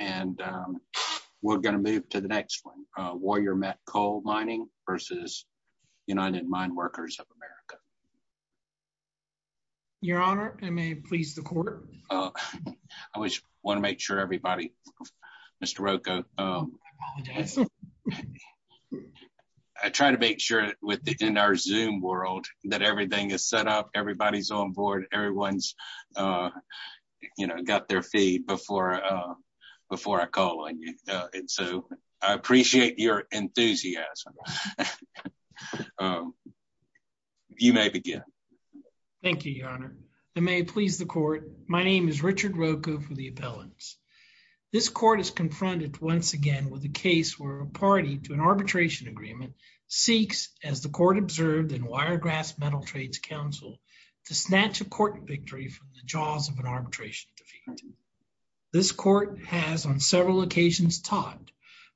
and we're going to move to the next one. Warrior Met Coal Mining versus United Mine Workers of America. Your Honor, I may please the court. I want to make sure everybody, Mr. Rocco, I try to make sure within our Zoom world that everything is set up, everybody's on board, everyone's got their feet before I call on you and so I appreciate your enthusiasm. You may begin. Thank you, Your Honor. I may please the court. My name is Richard Rocco for the appellants. This court is confronted once again with a case where a party to an arbitration agreement seeks, as the court observed in Wiregrass Metal Trades Council, to snatch a court victory from the jaws of an arbitration defeat. This court has on several occasions taught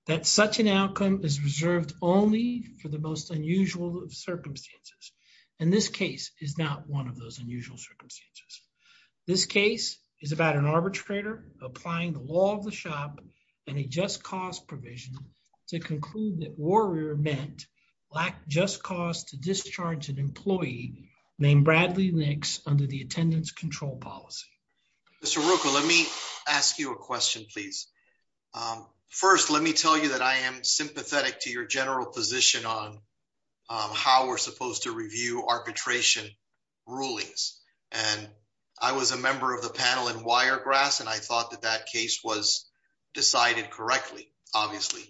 that such an outcome is reserved only for the most unusual of circumstances and this case is not one of those unusual circumstances. This case is about an arbitrator applying the law of the shop and a just cause provision to conclude that Warrior Met lacked just cause to discharge an employee named Bradley Nix under the attendance control policy. Mr. Rocco, let me ask you a question, please. First, let me tell you that I am sympathetic to your general position on how we're supposed to review arbitration rulings and I was a member of the panel in Wiregrass and I thought that that case was decided correctly, obviously,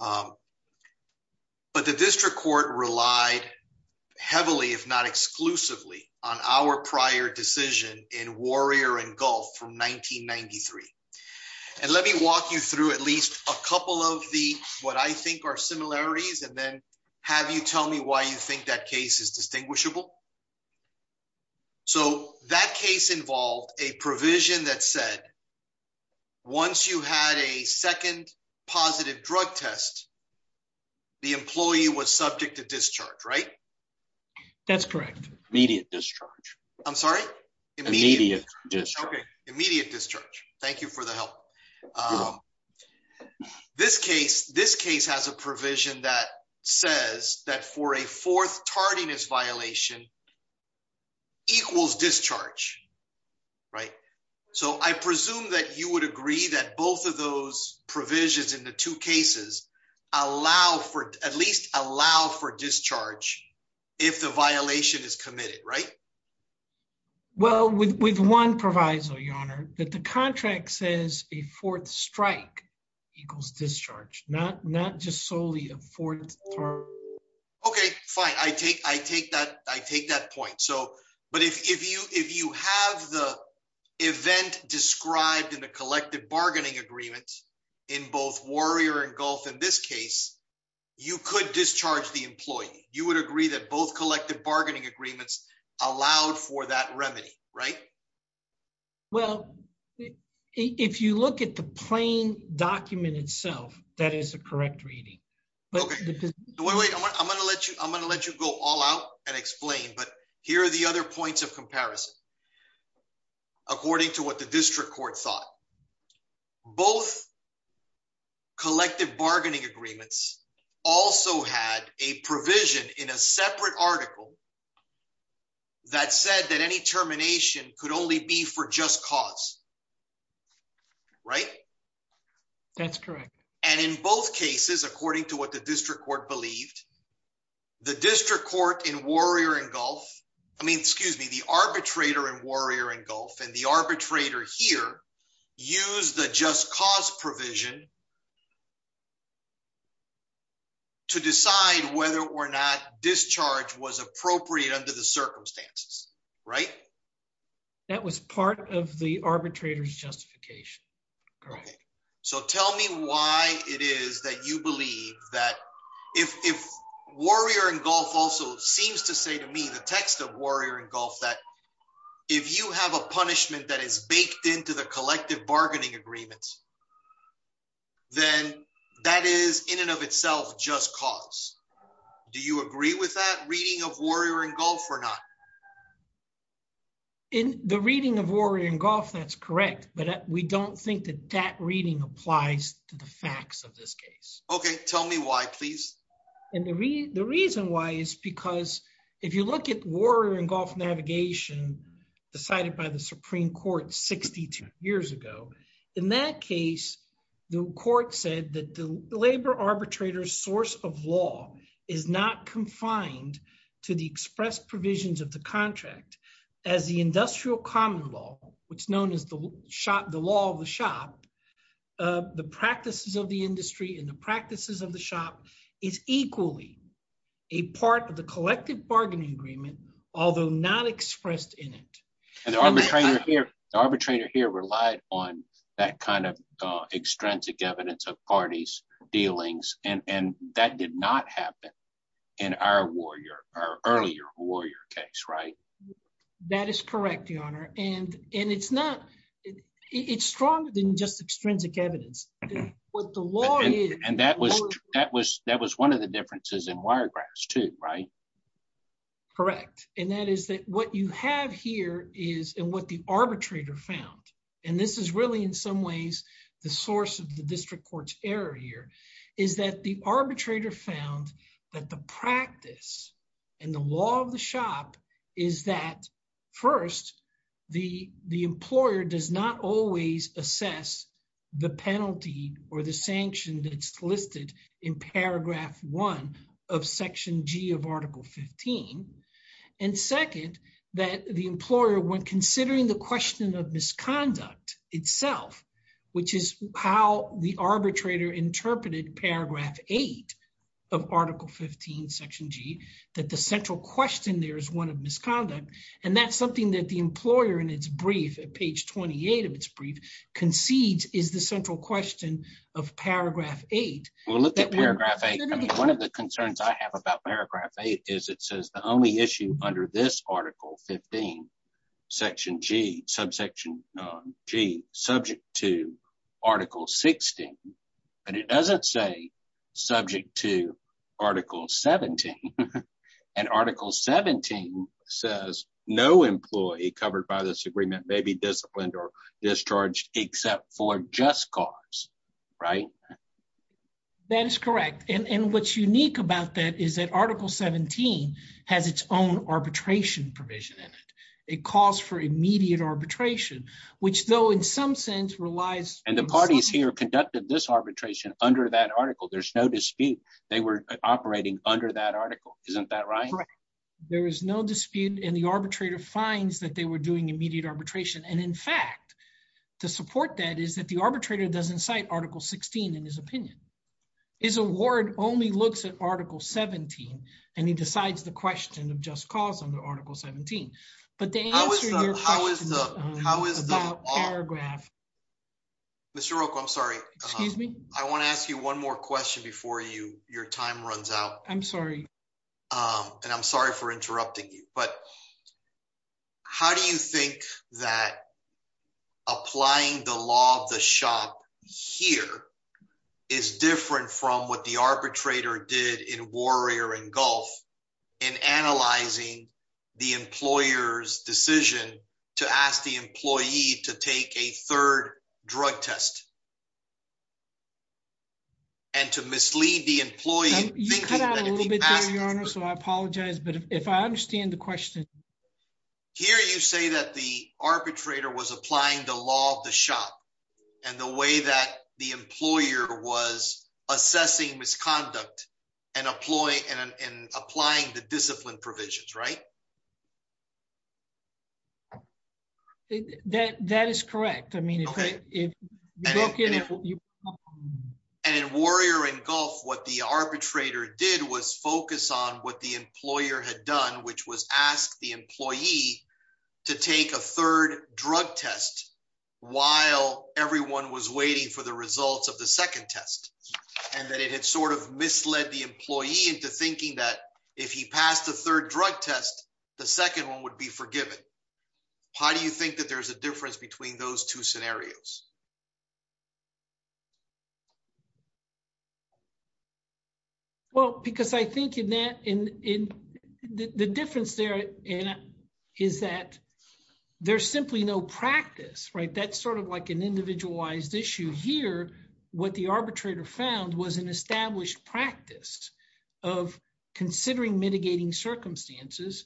but the district court relied heavily, if not exclusively, on our prior decision in Warrior and Gulf from 1993 and let me walk you through at least a couple of the what I think are similarities and then have you tell me why you a provision that said once you had a second positive drug test, the employee was subject to discharge, right? That's correct. Immediate discharge. I'm sorry? Immediate discharge. Okay, immediate discharge. Thank you for the help. This case has a provision that says that for a fourth strike, right? So, I presume that you would agree that both of those provisions in the two cases allow for at least allow for discharge if the violation is committed, right? Well, with one proviso, your honor, that the contract says a fourth strike equals discharge, not just solely a fourth. Okay, fine. I take that point. So, but if you have the event described in the collective bargaining agreement in both Warrior and Gulf in this case, you could discharge the employee. You would agree that both collective bargaining agreements allowed for that remedy, right? Well, if you look at the plain document itself, that is a correct reading. Okay. Wait, wait. I'm going to let you go all out and explain, but here are the other points of comparison. According to what the district court thought, both collective bargaining agreements also had a provision in a separate article that said that any termination could only be for just cause, right? That's correct. And in both cases, according to what the district court believed, the district court in Warrior and Gulf, I mean, excuse me, the arbitrator in Warrior and Gulf and the arbitrator here, use the just cause provision to decide whether or not discharge was appropriate under the circumstances, right? That was part of the arbitrator's justification. Okay. So tell me why it is that you believe that if Warrior and Gulf also seems to say to me, the text of Warrior and Gulf, that if you have a punishment that is baked into the collective bargaining agreements, then that is in and of itself just cause. Do you agree with that reading of Warrior and Gulf or not? In the reading of Warrior and Gulf, that's correct. But we don't think that that reading applies to the facts of this case. Okay. Tell me why, please. And the reason why is because if you look at Warrior and Gulf navigation decided by the Supreme Court 62 years ago, in that case, the court said that the labor arbitrator's source of law is not confined to the express provisions of the contract as the industrial common law, which is known as the shop, the law of the shop, the practices of the industry and the practices of the shop is equally a part of the collective bargaining agreement, although not expressed in it. The arbitrator here relied on that kind of extrinsic evidence of parties, dealings, and that did not happen in our earlier Warrior case, right? That is correct, Your Honor. And it's stronger than just extrinsic evidence. And that was one of the differences in Wiregrass too, right? Correct. And that is that what you have here is and what the arbitrator found, and this is really in some ways, the source of the district court's error here, is that the arbitrator found that the practice and the law of the shop is that first, the employer does not always assess the penalty or the sanction that's listed in paragraph one of section G of article 15. And second, that the employer when considering the question of misconduct itself, which is how the arbitrator interpreted paragraph eight of article 15, section G, that the central question there is one of misconduct. And that's something that the employer in its brief at page 28 of its brief concedes is the central question of paragraph eight. We'll look at paragraph eight. One of the concerns I have about paragraph eight is it says the only issue under this article 15, section G, subsection G, subject to article 16. But it doesn't say subject to article 17. And article 17 says no employee covered by this That is correct. And what's unique about that is that article 17 has its own arbitration provision in it. It calls for immediate arbitration, which though in some sense relies And the parties here conducted this arbitration under that article. There's no dispute. They were operating under that article. Isn't that right? There is no dispute and the arbitrator finds that they were doing immediate arbitration. And in fact, to support that is that the arbitrator doesn't cite article 16 in his opinion. His award only looks at article 17 and he decides the question of just cause under article 17. But to answer your question about paragraph Mr. Rocco, I'm sorry. Excuse me? I want to ask you one more question before your time runs out. I'm sorry. And I'm sorry for interrupting you. But How do you think that applying the law of the shop here is different from what the arbitrator did in Warrior and Gulf in analyzing the employer's decision to ask the employee to take a third drug test? And to mislead the employee? You cut out a little bit there, your honor. So I apologize. But if I understand the question Here, you say that the arbitrator was applying the law of the shop and the way that the employer was assessing misconduct and applying the discipline provisions, right? That is correct. And in Warrior and Gulf, what the arbitrator did was focus on what the employer had done, which was asked the employee to take a third drug test while everyone was waiting for the results of the second test. And that it had sort of misled the employee into thinking that if he passed the third drug test, the second one would be forgiven. How do you think that there's a difference between those two scenarios? Well, because I think in that in the difference there is that there's simply no practice, right? That's sort of like an individualized issue here. What the arbitrator found was an established practice of considering mitigating circumstances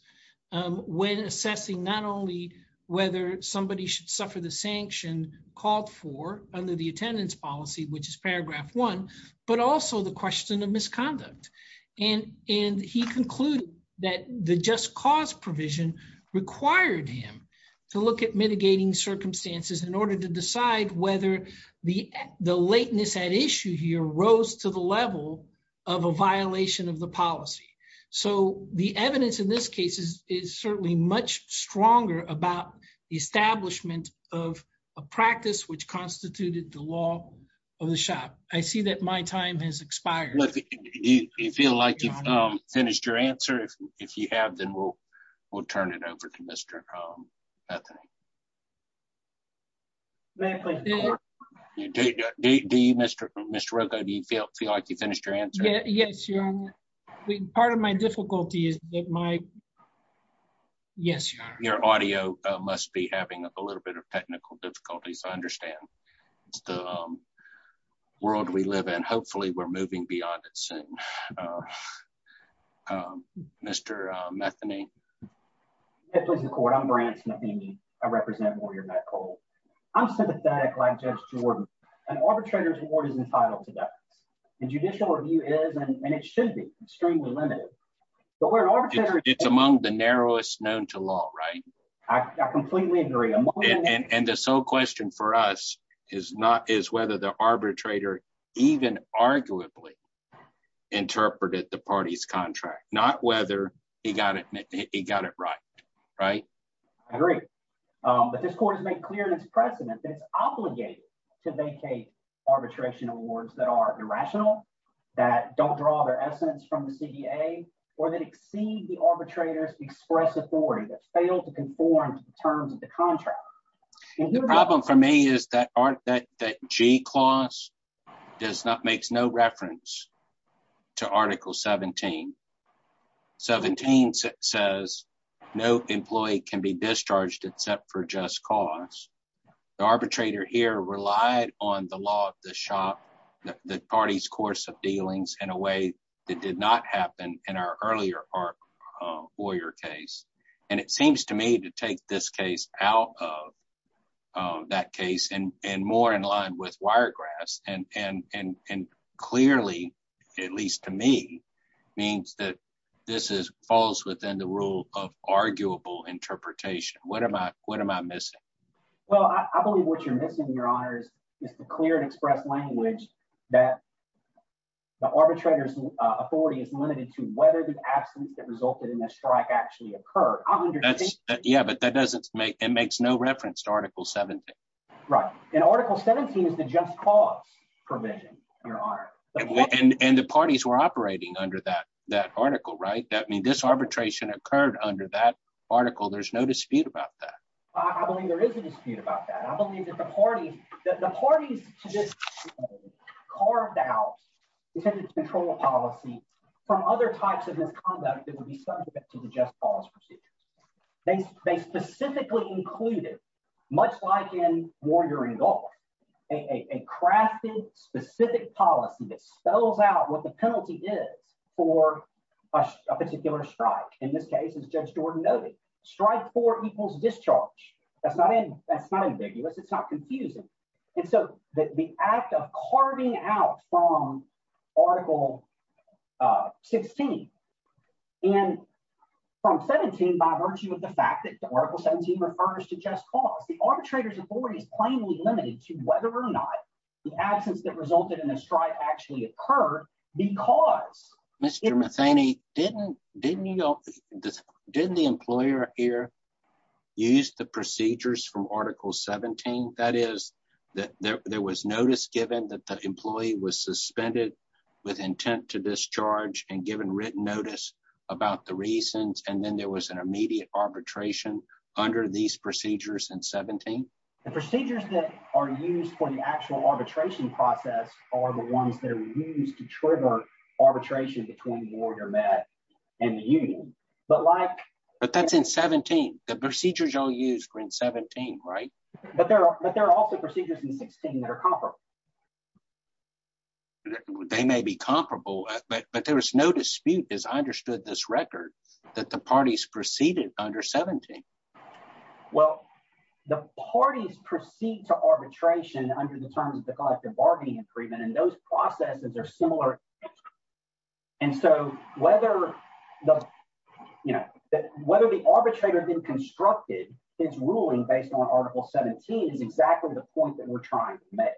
when assessing not only whether somebody should the sanction called for under the attendance policy, which is paragraph one, but also the question of misconduct. And he concluded that the just cause provision required him to look at mitigating circumstances in order to decide whether the lateness at issue here rose to the level of a violation of the policy. So the evidence in this case is certainly much stronger about the establishment of a practice which constituted the law of the shop. I see that my time has expired. Do you feel like you've finished your answer? If you have, then we'll turn it over to Mr. Bethany. Do you, Mr. Rocco, do you feel like you finished your answer? Yes, your honor. Part of my difficulty is that my... Yes, your honor. Your audio must be having a little bit of technical difficulties. I understand. It's the world we live in. Hopefully we're moving beyond it soon. Mr. Bethany. Yes, please, your court. I'm Brant Smith-Amy. I represent lawyer Matt Cole. I'm sympathetic like Jordan. An arbitrator's reward is entitled to that. The judicial review is, and it should be, extremely limited. But where an arbitrator... It's among the narrowest known to law, right? I completely agree. And the sole question for us is whether the arbitrator even arguably interpreted the party's contract, not whether he got it right, right? I agree. But this court has made clear in its precedent that it's obligated to vacate arbitration awards that are irrational, that don't draw their essence from the CDA, or that exceed the arbitrator's express authority, that fail to conform to the terms of the contract. The problem for me is that that G clause does not, makes no reference to Article 17. 17 says no employee can be discharged except for just cause. The arbitrator here relied on the law of the shop, the party's course of dealings in a way that did not happen in our earlier lawyer case. And it seems to me to take this case out of that case, and more in line with that this falls within the rule of arguable interpretation. What am I missing? Well, I believe what you're missing, Your Honors, is the clear and expressed language that the arbitrator's authority is limited to whether the absence that resulted in that strike actually occurred. I'm understanding- Yeah, but that doesn't make, it makes no reference to Article 17. Right. And Article 17 is the just cause provision, Your Honor. And the parties were operating under that, that article, right? I mean, this arbitration occurred under that article. There's no dispute about that. I believe there is a dispute about that. I believe that the parties, that the parties carved out this control policy from other types of misconduct that would be subject to the just cause procedures. They specifically included, much like in Warrior and Guard, a crafted, specific policy that spells out what the penalty is for a particular strike. In this case, as Judge Jordan noted, strike four equals discharge. That's not ambiguous. It's not by virtue of the fact that Article 17 refers to just cause. The arbitrator's authority is plainly limited to whether or not the absence that resulted in a strike actually occurred because- Mr. Matheny, didn't, didn't you, didn't the employer here use the procedures from Article 17? That is, that there was notice given that the employee was suspended with intent to discharge and given written notice about the reasons, and then there was an immediate arbitration under these procedures in 17? The procedures that are used for the actual arbitration process are the ones that are used to trigger arbitration between Warrior Med and the union. But like- But that's in 17. The procedures all used were in 17, right? But there are, but there are also procedures in 16 that are comparable. They may be comparable, but there was no dispute, as I understood this record, that the parties proceeded under 17. Well, the parties proceed to arbitration under the terms of the collective bargaining agreement, and those processes are similar. And so whether the, you know, whether the arbitrator then constructed his ruling based on Article 17 is exactly the point that we're trying to make.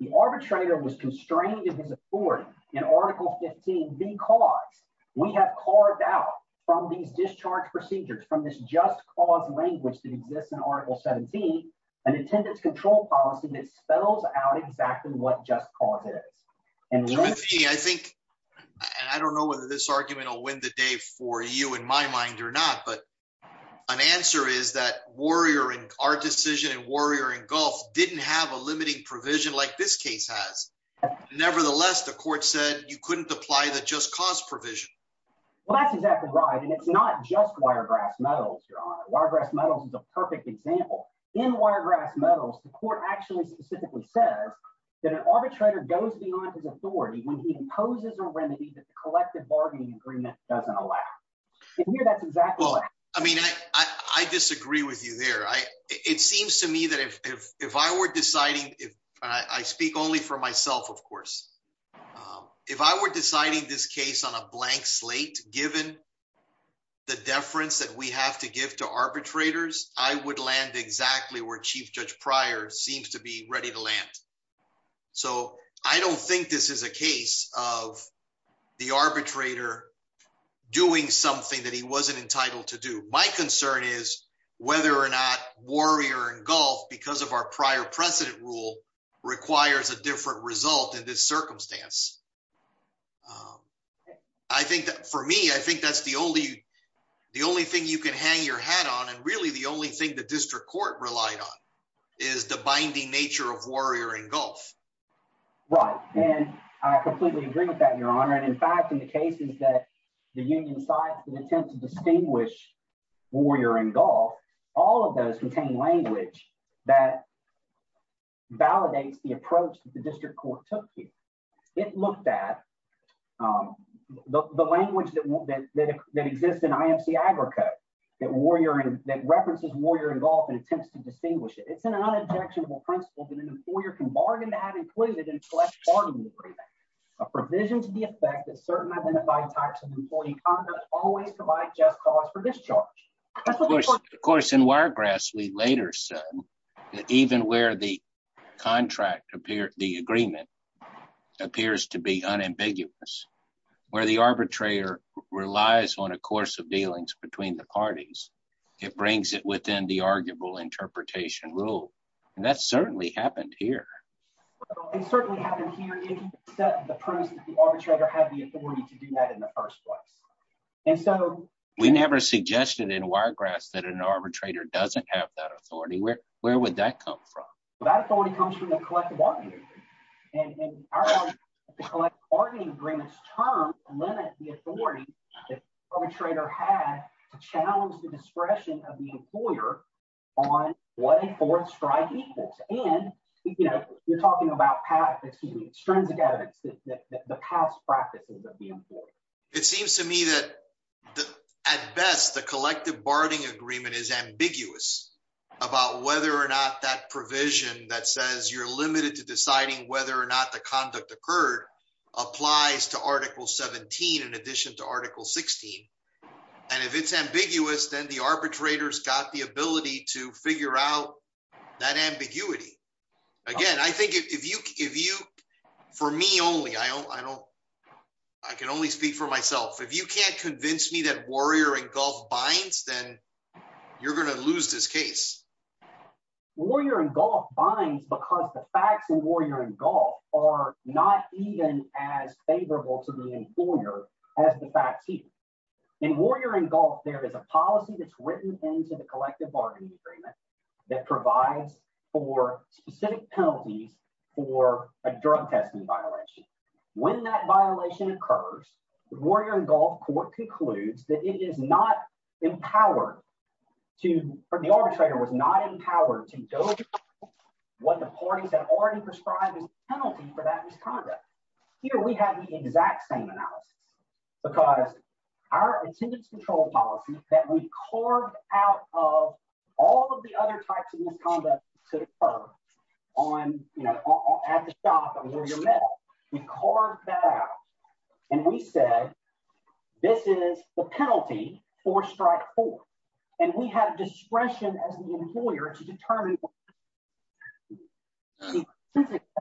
The arbitrator was constrained in his authority in Article 15 because we have carved out from these discharge procedures, from this just cause language that exists in Article 17, an attendance control policy that spells out exactly what just cause is. Timothy, I think, and I don't know whether this argument will win the day for you in my mind or not, but an answer is that Warrior, our decision in Warrior and Gulf didn't have a limiting provision like this case has. Nevertheless, the court said you couldn't apply the just cause provision. Well, that's exactly right. And it's not just Wiregrass Metals, Your Honor. Wiregrass Metals is a perfect example. In Wiregrass Metals, the court actually specifically says that an arbitrator goes beyond his authority when he imposes a remedy that the collective bargaining agreement doesn't allow. And here that's exactly right. Well, I mean, I disagree with you there. It seems to me that if I were deciding, I speak only for myself, of course, if I were deciding this case on a blank slate, given the deference that we have to give to arbitrators, I would land exactly where Chief Judge Pryor seems to be ready to land. So I don't think this is a case of the arbitrator doing something that he wasn't entitled to do. My concern is whether or not Warrior and Gulf, because of our prior precedent rule, requires a different result in this circumstance. I think that for me, I think that's the only thing you can hang your hat on. And really, the only thing the district court relied on is the binding nature of Warrior and Gulf. Right. And I completely agree with that, and in fact, in the cases that the union sites that attempt to distinguish Warrior and Gulf, all of those contain language that validates the approach that the district court took here. It looked at the language that exists in IMC Agricode that references Warrior and Gulf and attempts to distinguish it. It's an unobjectionable principle that an employer can expect that certain identified types of employee conduct always provide just cause for discharge. Of course, in Wiregrass, we later said that even where the agreement appears to be unambiguous, where the arbitrator relies on a course of dealings between the parties, it brings it within the arguable interpretation rule. And that certainly happened here. It certainly happened here if you set the premise that the arbitrator had the authority to do that in the first place. And so we never suggested in Wiregrass that an arbitrator doesn't have that authority. Where would that come from? Well, that authority comes from the collective bargaining agreement. And our collective bargaining agreement's term limits the authority that the arbitrator has to challenge the discretion of the employer on what a fourth strike equals. And, you know, you're talking about past, excuse me, extrinsic evidence that the past practices of the employer. It seems to me that at best, the collective bargaining agreement is ambiguous about whether or not that provision that says you're limited to deciding whether or not the conduct occurred applies to Article 17 in addition to Article 16. And if it's ambiguous, then the arbitrators got the ability to figure out that ambiguity. Again, I think if you, if you, for me only, I don't, I don't, I can only speak for myself. If you can't convince me that Warrior and Gulf binds, then you're going to lose this case. Warrior and Gulf binds because the facts in Warrior and Gulf are not even as favorable to the employer as the facts here. In Warrior and Gulf, there is a policy that's written into the collective bargaining agreement that provides for specific penalties for a drug testing violation. When that violation occurs, the Warrior and Gulf court concludes that it is not empowered to, or the arbitrator was not empowered to go through what the parties had already described as a penalty for that misconduct. Here we have the exact same analysis because our attendance control policy that we carved out of all of the other types of misconduct to occur on, you know, at the shop, under your metal, we carved that out and we said, this is the penalty for strike four. And we had a discretion as the employer to determine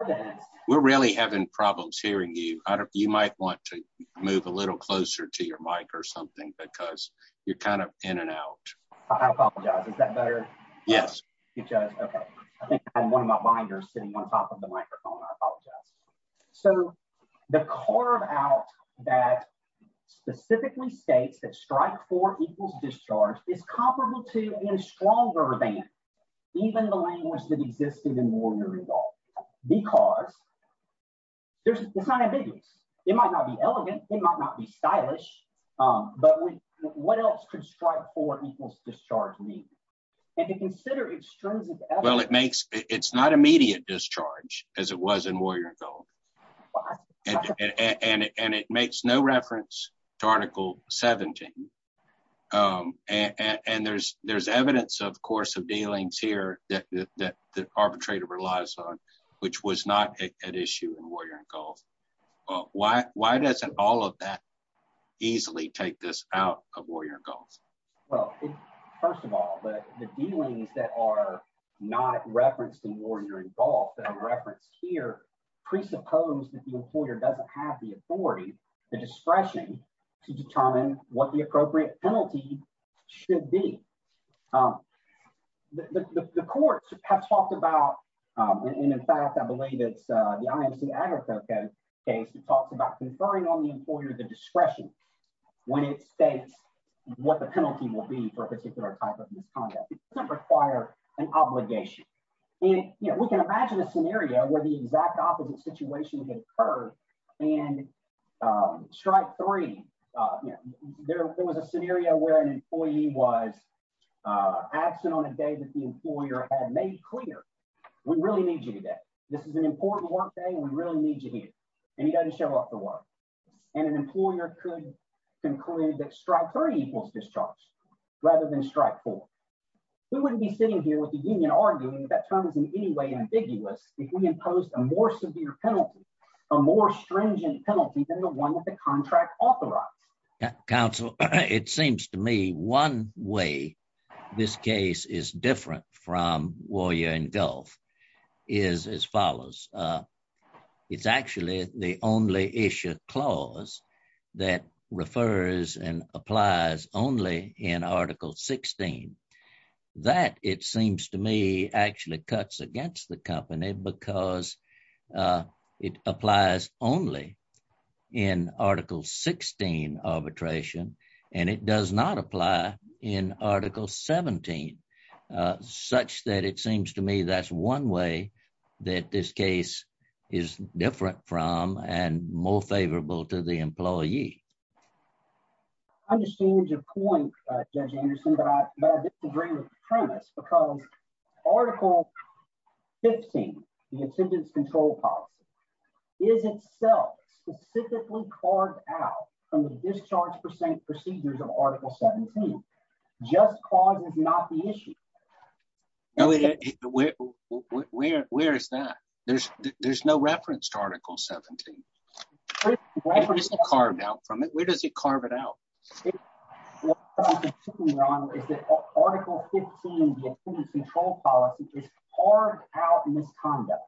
that. We're really having problems hearing you. I don't, you might want to move a little closer to your mic or something because you're kind of in and out. I apologize. Is that better? Yes. Okay. I think I'm one of my binders sitting on top of the microphone. I apologize. So the carve out that specifically states that strike four equals discharge is comparable to, and stronger than, even the language that existed in Warrior and Gulf, because there's, it's not ambiguous. It might not be elegant. It might not be stylish. But what else could strike four equals discharge mean? And to consider extrinsic- Well, it makes, it's not immediate discharge as it was in Warrior and Gulf. And it makes no reference to Article 17. And there's evidence, of course, of dealings here that the arbitrator relies on, which was not an issue in Warrior and Gulf. Why doesn't all of that easily take this out of Warrior and Gulf? Well, first of all, the dealings that are not referenced in Warrior and Gulf, that are referenced here, presuppose that the employer doesn't have the authority, the discretion, to determine what the appropriate penalty should be. The courts have talked about, and in fact, I believe it's the IMC-Agricultural Code case that talks about conferring on the employer the discretion when it states what the penalty will be for a particular type of misconduct. It doesn't require an obligation. And, you know, we can imagine a scenario where the exact opposite situation would occur. And strike three, there was a scenario where an employee was absent on a day that the employer had made clear, we really need you today. This is an important workday. We really need you here. And he doesn't conclude that strike three equals discharge rather than strike four. We wouldn't be sitting here with the union arguing that term is in any way ambiguous if we imposed a more severe penalty, a more stringent penalty than the one that the contract authorized. Council, it seems to me one way this case is different from Warrior and Gulf is as follows. It's actually the only issue clause that refers and applies only in Article 16. That, it seems to me, actually cuts against the company because it applies only in Article 16 arbitration, and it does not apply in Article 17, such that it seems to me that's one way that this case is different from and more favorable to the employee. I understand your point, Judge Anderson, but I disagree with the premise because Article 15, the attendance control policy, is itself specifically carved out from the discharge procedures of Article 17. Just clause is not the issue. Where is that? There's no reference to Article 17. It isn't carved out from it. Where does it carve it out? Article 15, the attendance control policy, is carved out in this conduct.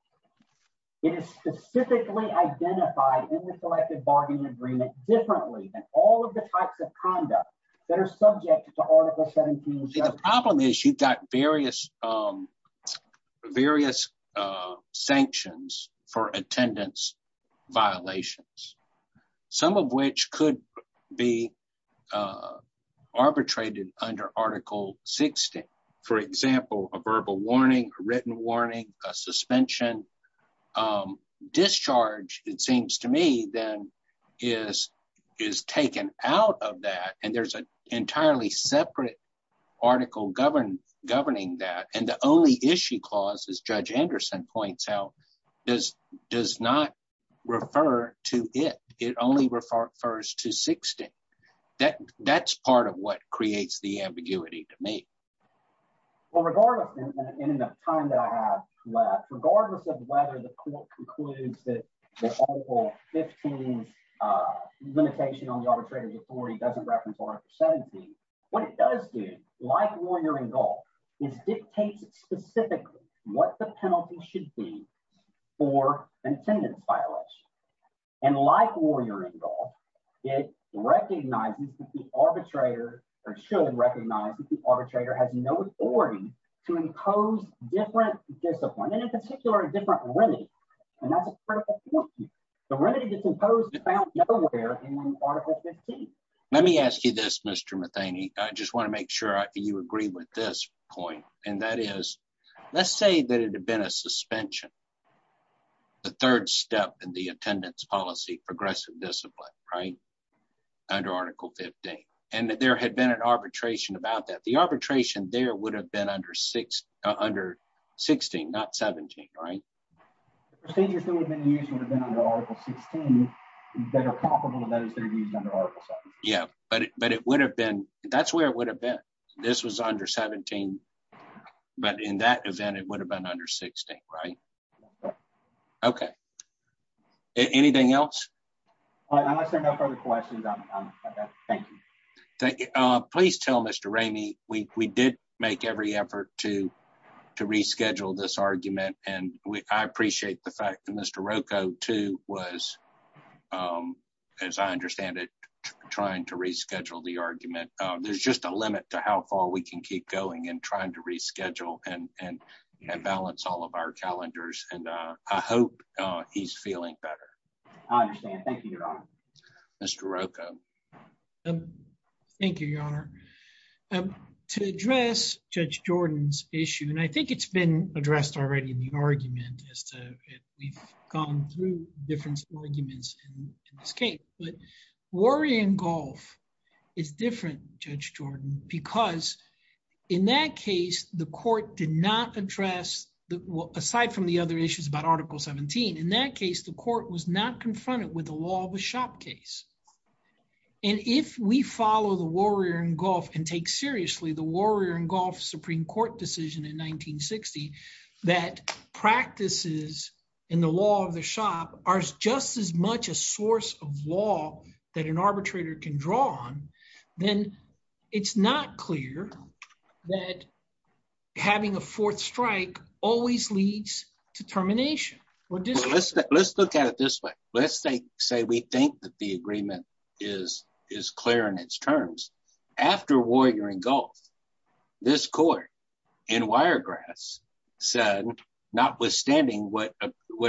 It is specifically identified in the Selected Bargaining Agreement differently than all of the types of conduct that are subject to Article 17. The problem is you've got various sanctions for attendance violations, some of which could be arbitrated under Article 16. For example, a verbal warning, a written warning, a suspension, a discharge, it seems to me, is taken out of that. There's an entirely separate article governing that. The only issue clause, as Judge Anderson points out, does not refer to it. It only refers to 16. That's part of what creates the ambiguity to me. Well, regardless, in the time that I have left, regardless of whether the court concludes that this Article 15 limitation on the arbitrator's authority doesn't reference Article 17, what it does do, like Warrior Engulf, is dictates specifically what the penalty should be for attendance violation. Like Warrior Engulf, it recognizes that the arbitrator, should recognize that the arbitrator has no authority to impose different discipline, and in particular, a different remedy. And that's a critical point. The remedy is imposed about nowhere in Article 15. Let me ask you this, Mr. Matheny. I just want to make sure you agree with this point, and that is, let's say that it had been a suspension, the third step in the attendance policy, progressive discipline, right, under Article 15, and that there had been an arbitration about that. The arbitration there would have been under 16, not 17, right? The procedures that would have been used would have been under Article 16, that are comparable to those that are used under Article 17. Yeah, but it would have been, that's where it would have been. This was under 17, but in that event, it would have been under 16, right? Okay. Anything else? Unless there are no further questions, I'm done. Thank you. Please tell Mr. Ramey, we did make every effort to reschedule this argument, and I appreciate the fact that Mr. Rocco, too, was, as I understand it, trying to reschedule the argument. There's just a limit to how far we can keep going in trying to reschedule and balance all of our calendars, and I hope he's feeling better. I understand. Thank you, Your Honor. Mr. Rocco. Thank you, Your Honor. To address Judge Jordan's issue, and I think it's been addressed already in the argument as to if we've gone through different arguments in this case, but Warrior and Gulf is different, Judge Jordan, because in that case, the court did not address, aside from the other issues about Article 17, in that case, the court was not confronted with the shop case. And if we follow the Warrior and Gulf and take seriously the Warrior and Gulf Supreme Court decision in 1960, that practices in the law of the shop are just as much a source of law that an arbitrator can draw on, then it's not clear that having a fourth strike always leads to termination. Let's look at it this way. Let's say we think that the agreement is clear in its terms. After Warrior and Gulf, this court in Wiregrass said, notwithstanding what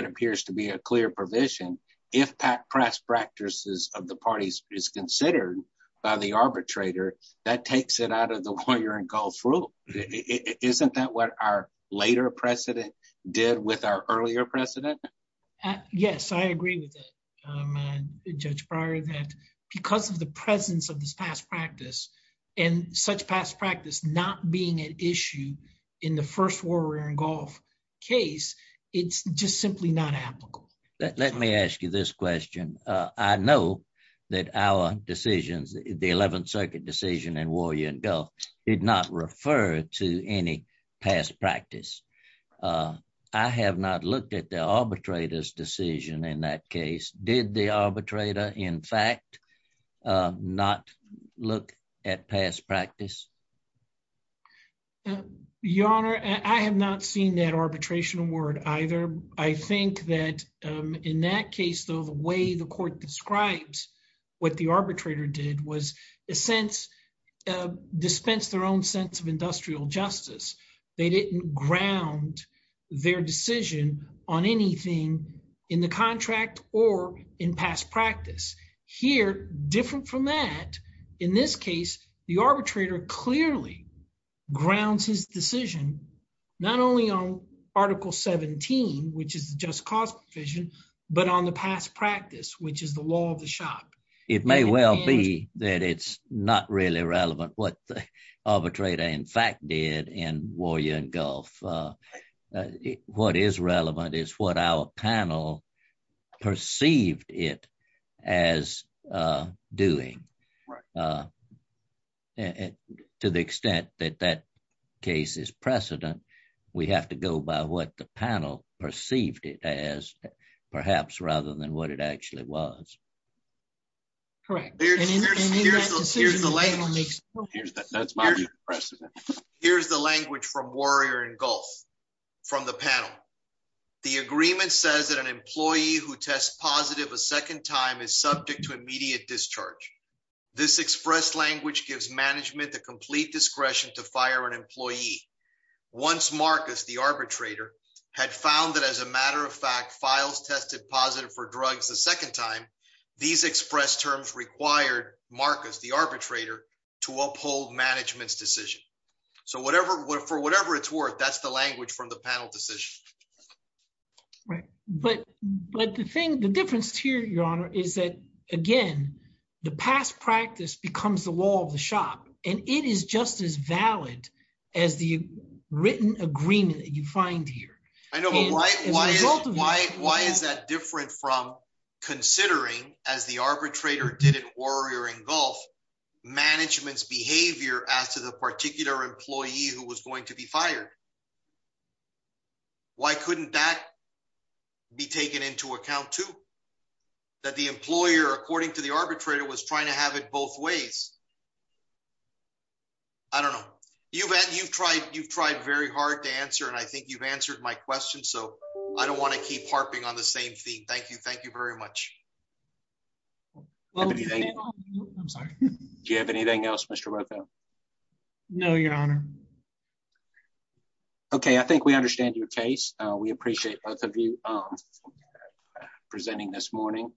appears to be a clear provision, if past practices of the parties is considered by the arbitrator, that our earlier precedent? Yes, I agree with that, Judge Breyer, that because of the presence of this past practice, and such past practice not being an issue in the first Warrior and Gulf case, it's just simply not applicable. Let me ask you this question. I know that our decisions, the 11th Circuit decision and Warrior and Gulf did not refer to any past practice. I have not looked at the arbitrator's decision in that case. Did the arbitrator, in fact, not look at past practice? Your Honor, I have not seen that arbitration award either. I think that in that case, though, the way the court describes what the arbitrator did was, in a sense, dispense their own sense of industrial justice. They didn't ground their decision on anything in the contract or in past practice. Here, different from that, in this case, the arbitrator clearly grounds his decision not only on Article 17, which is the just cause provision, but on the past practice, which is the law of the shop. It may well be that it's not really relevant what the arbitrator, in fact, did in Warrior and Gulf. What is relevant is what our panel perceived it as doing. To the extent that that case is precedent, we have to go by what the panel perceived it as, perhaps, rather than what it actually was. Here's the language from Warrior and Gulf, from the panel. The agreement says that an employee who tests positive a second time is subject to immediate discharge. This express language gives management the complete discretion to fire an employee. Once Marcus, the arbitrator, had found that, as a matter of fact, Files tested positive for drugs a second time, these express terms required Marcus, the arbitrator, to uphold management's decision. For whatever it's worth, that's the language from the panel decision. But the difference here, Your Honor, is that, again, the past practice becomes the law of the shop, and it is just as valid as the written agreement that you find here. I know, but why is that different from considering, as the arbitrator did in Warrior and Gulf, management's behavior as to the particular employee who was going to be fired? Why couldn't that be taken into account, too? That the employer, according to the arbitrator, was trying to have it both ways. I don't know. You've tried very hard to answer, and I think you've answered my question, so I don't want to keep harping on the same theme. Thank you. Thank you. Do you have anything else, Mr. Rocco? No, Your Honor. Okay, I think we understand your case. We appreciate both of you presenting this morning.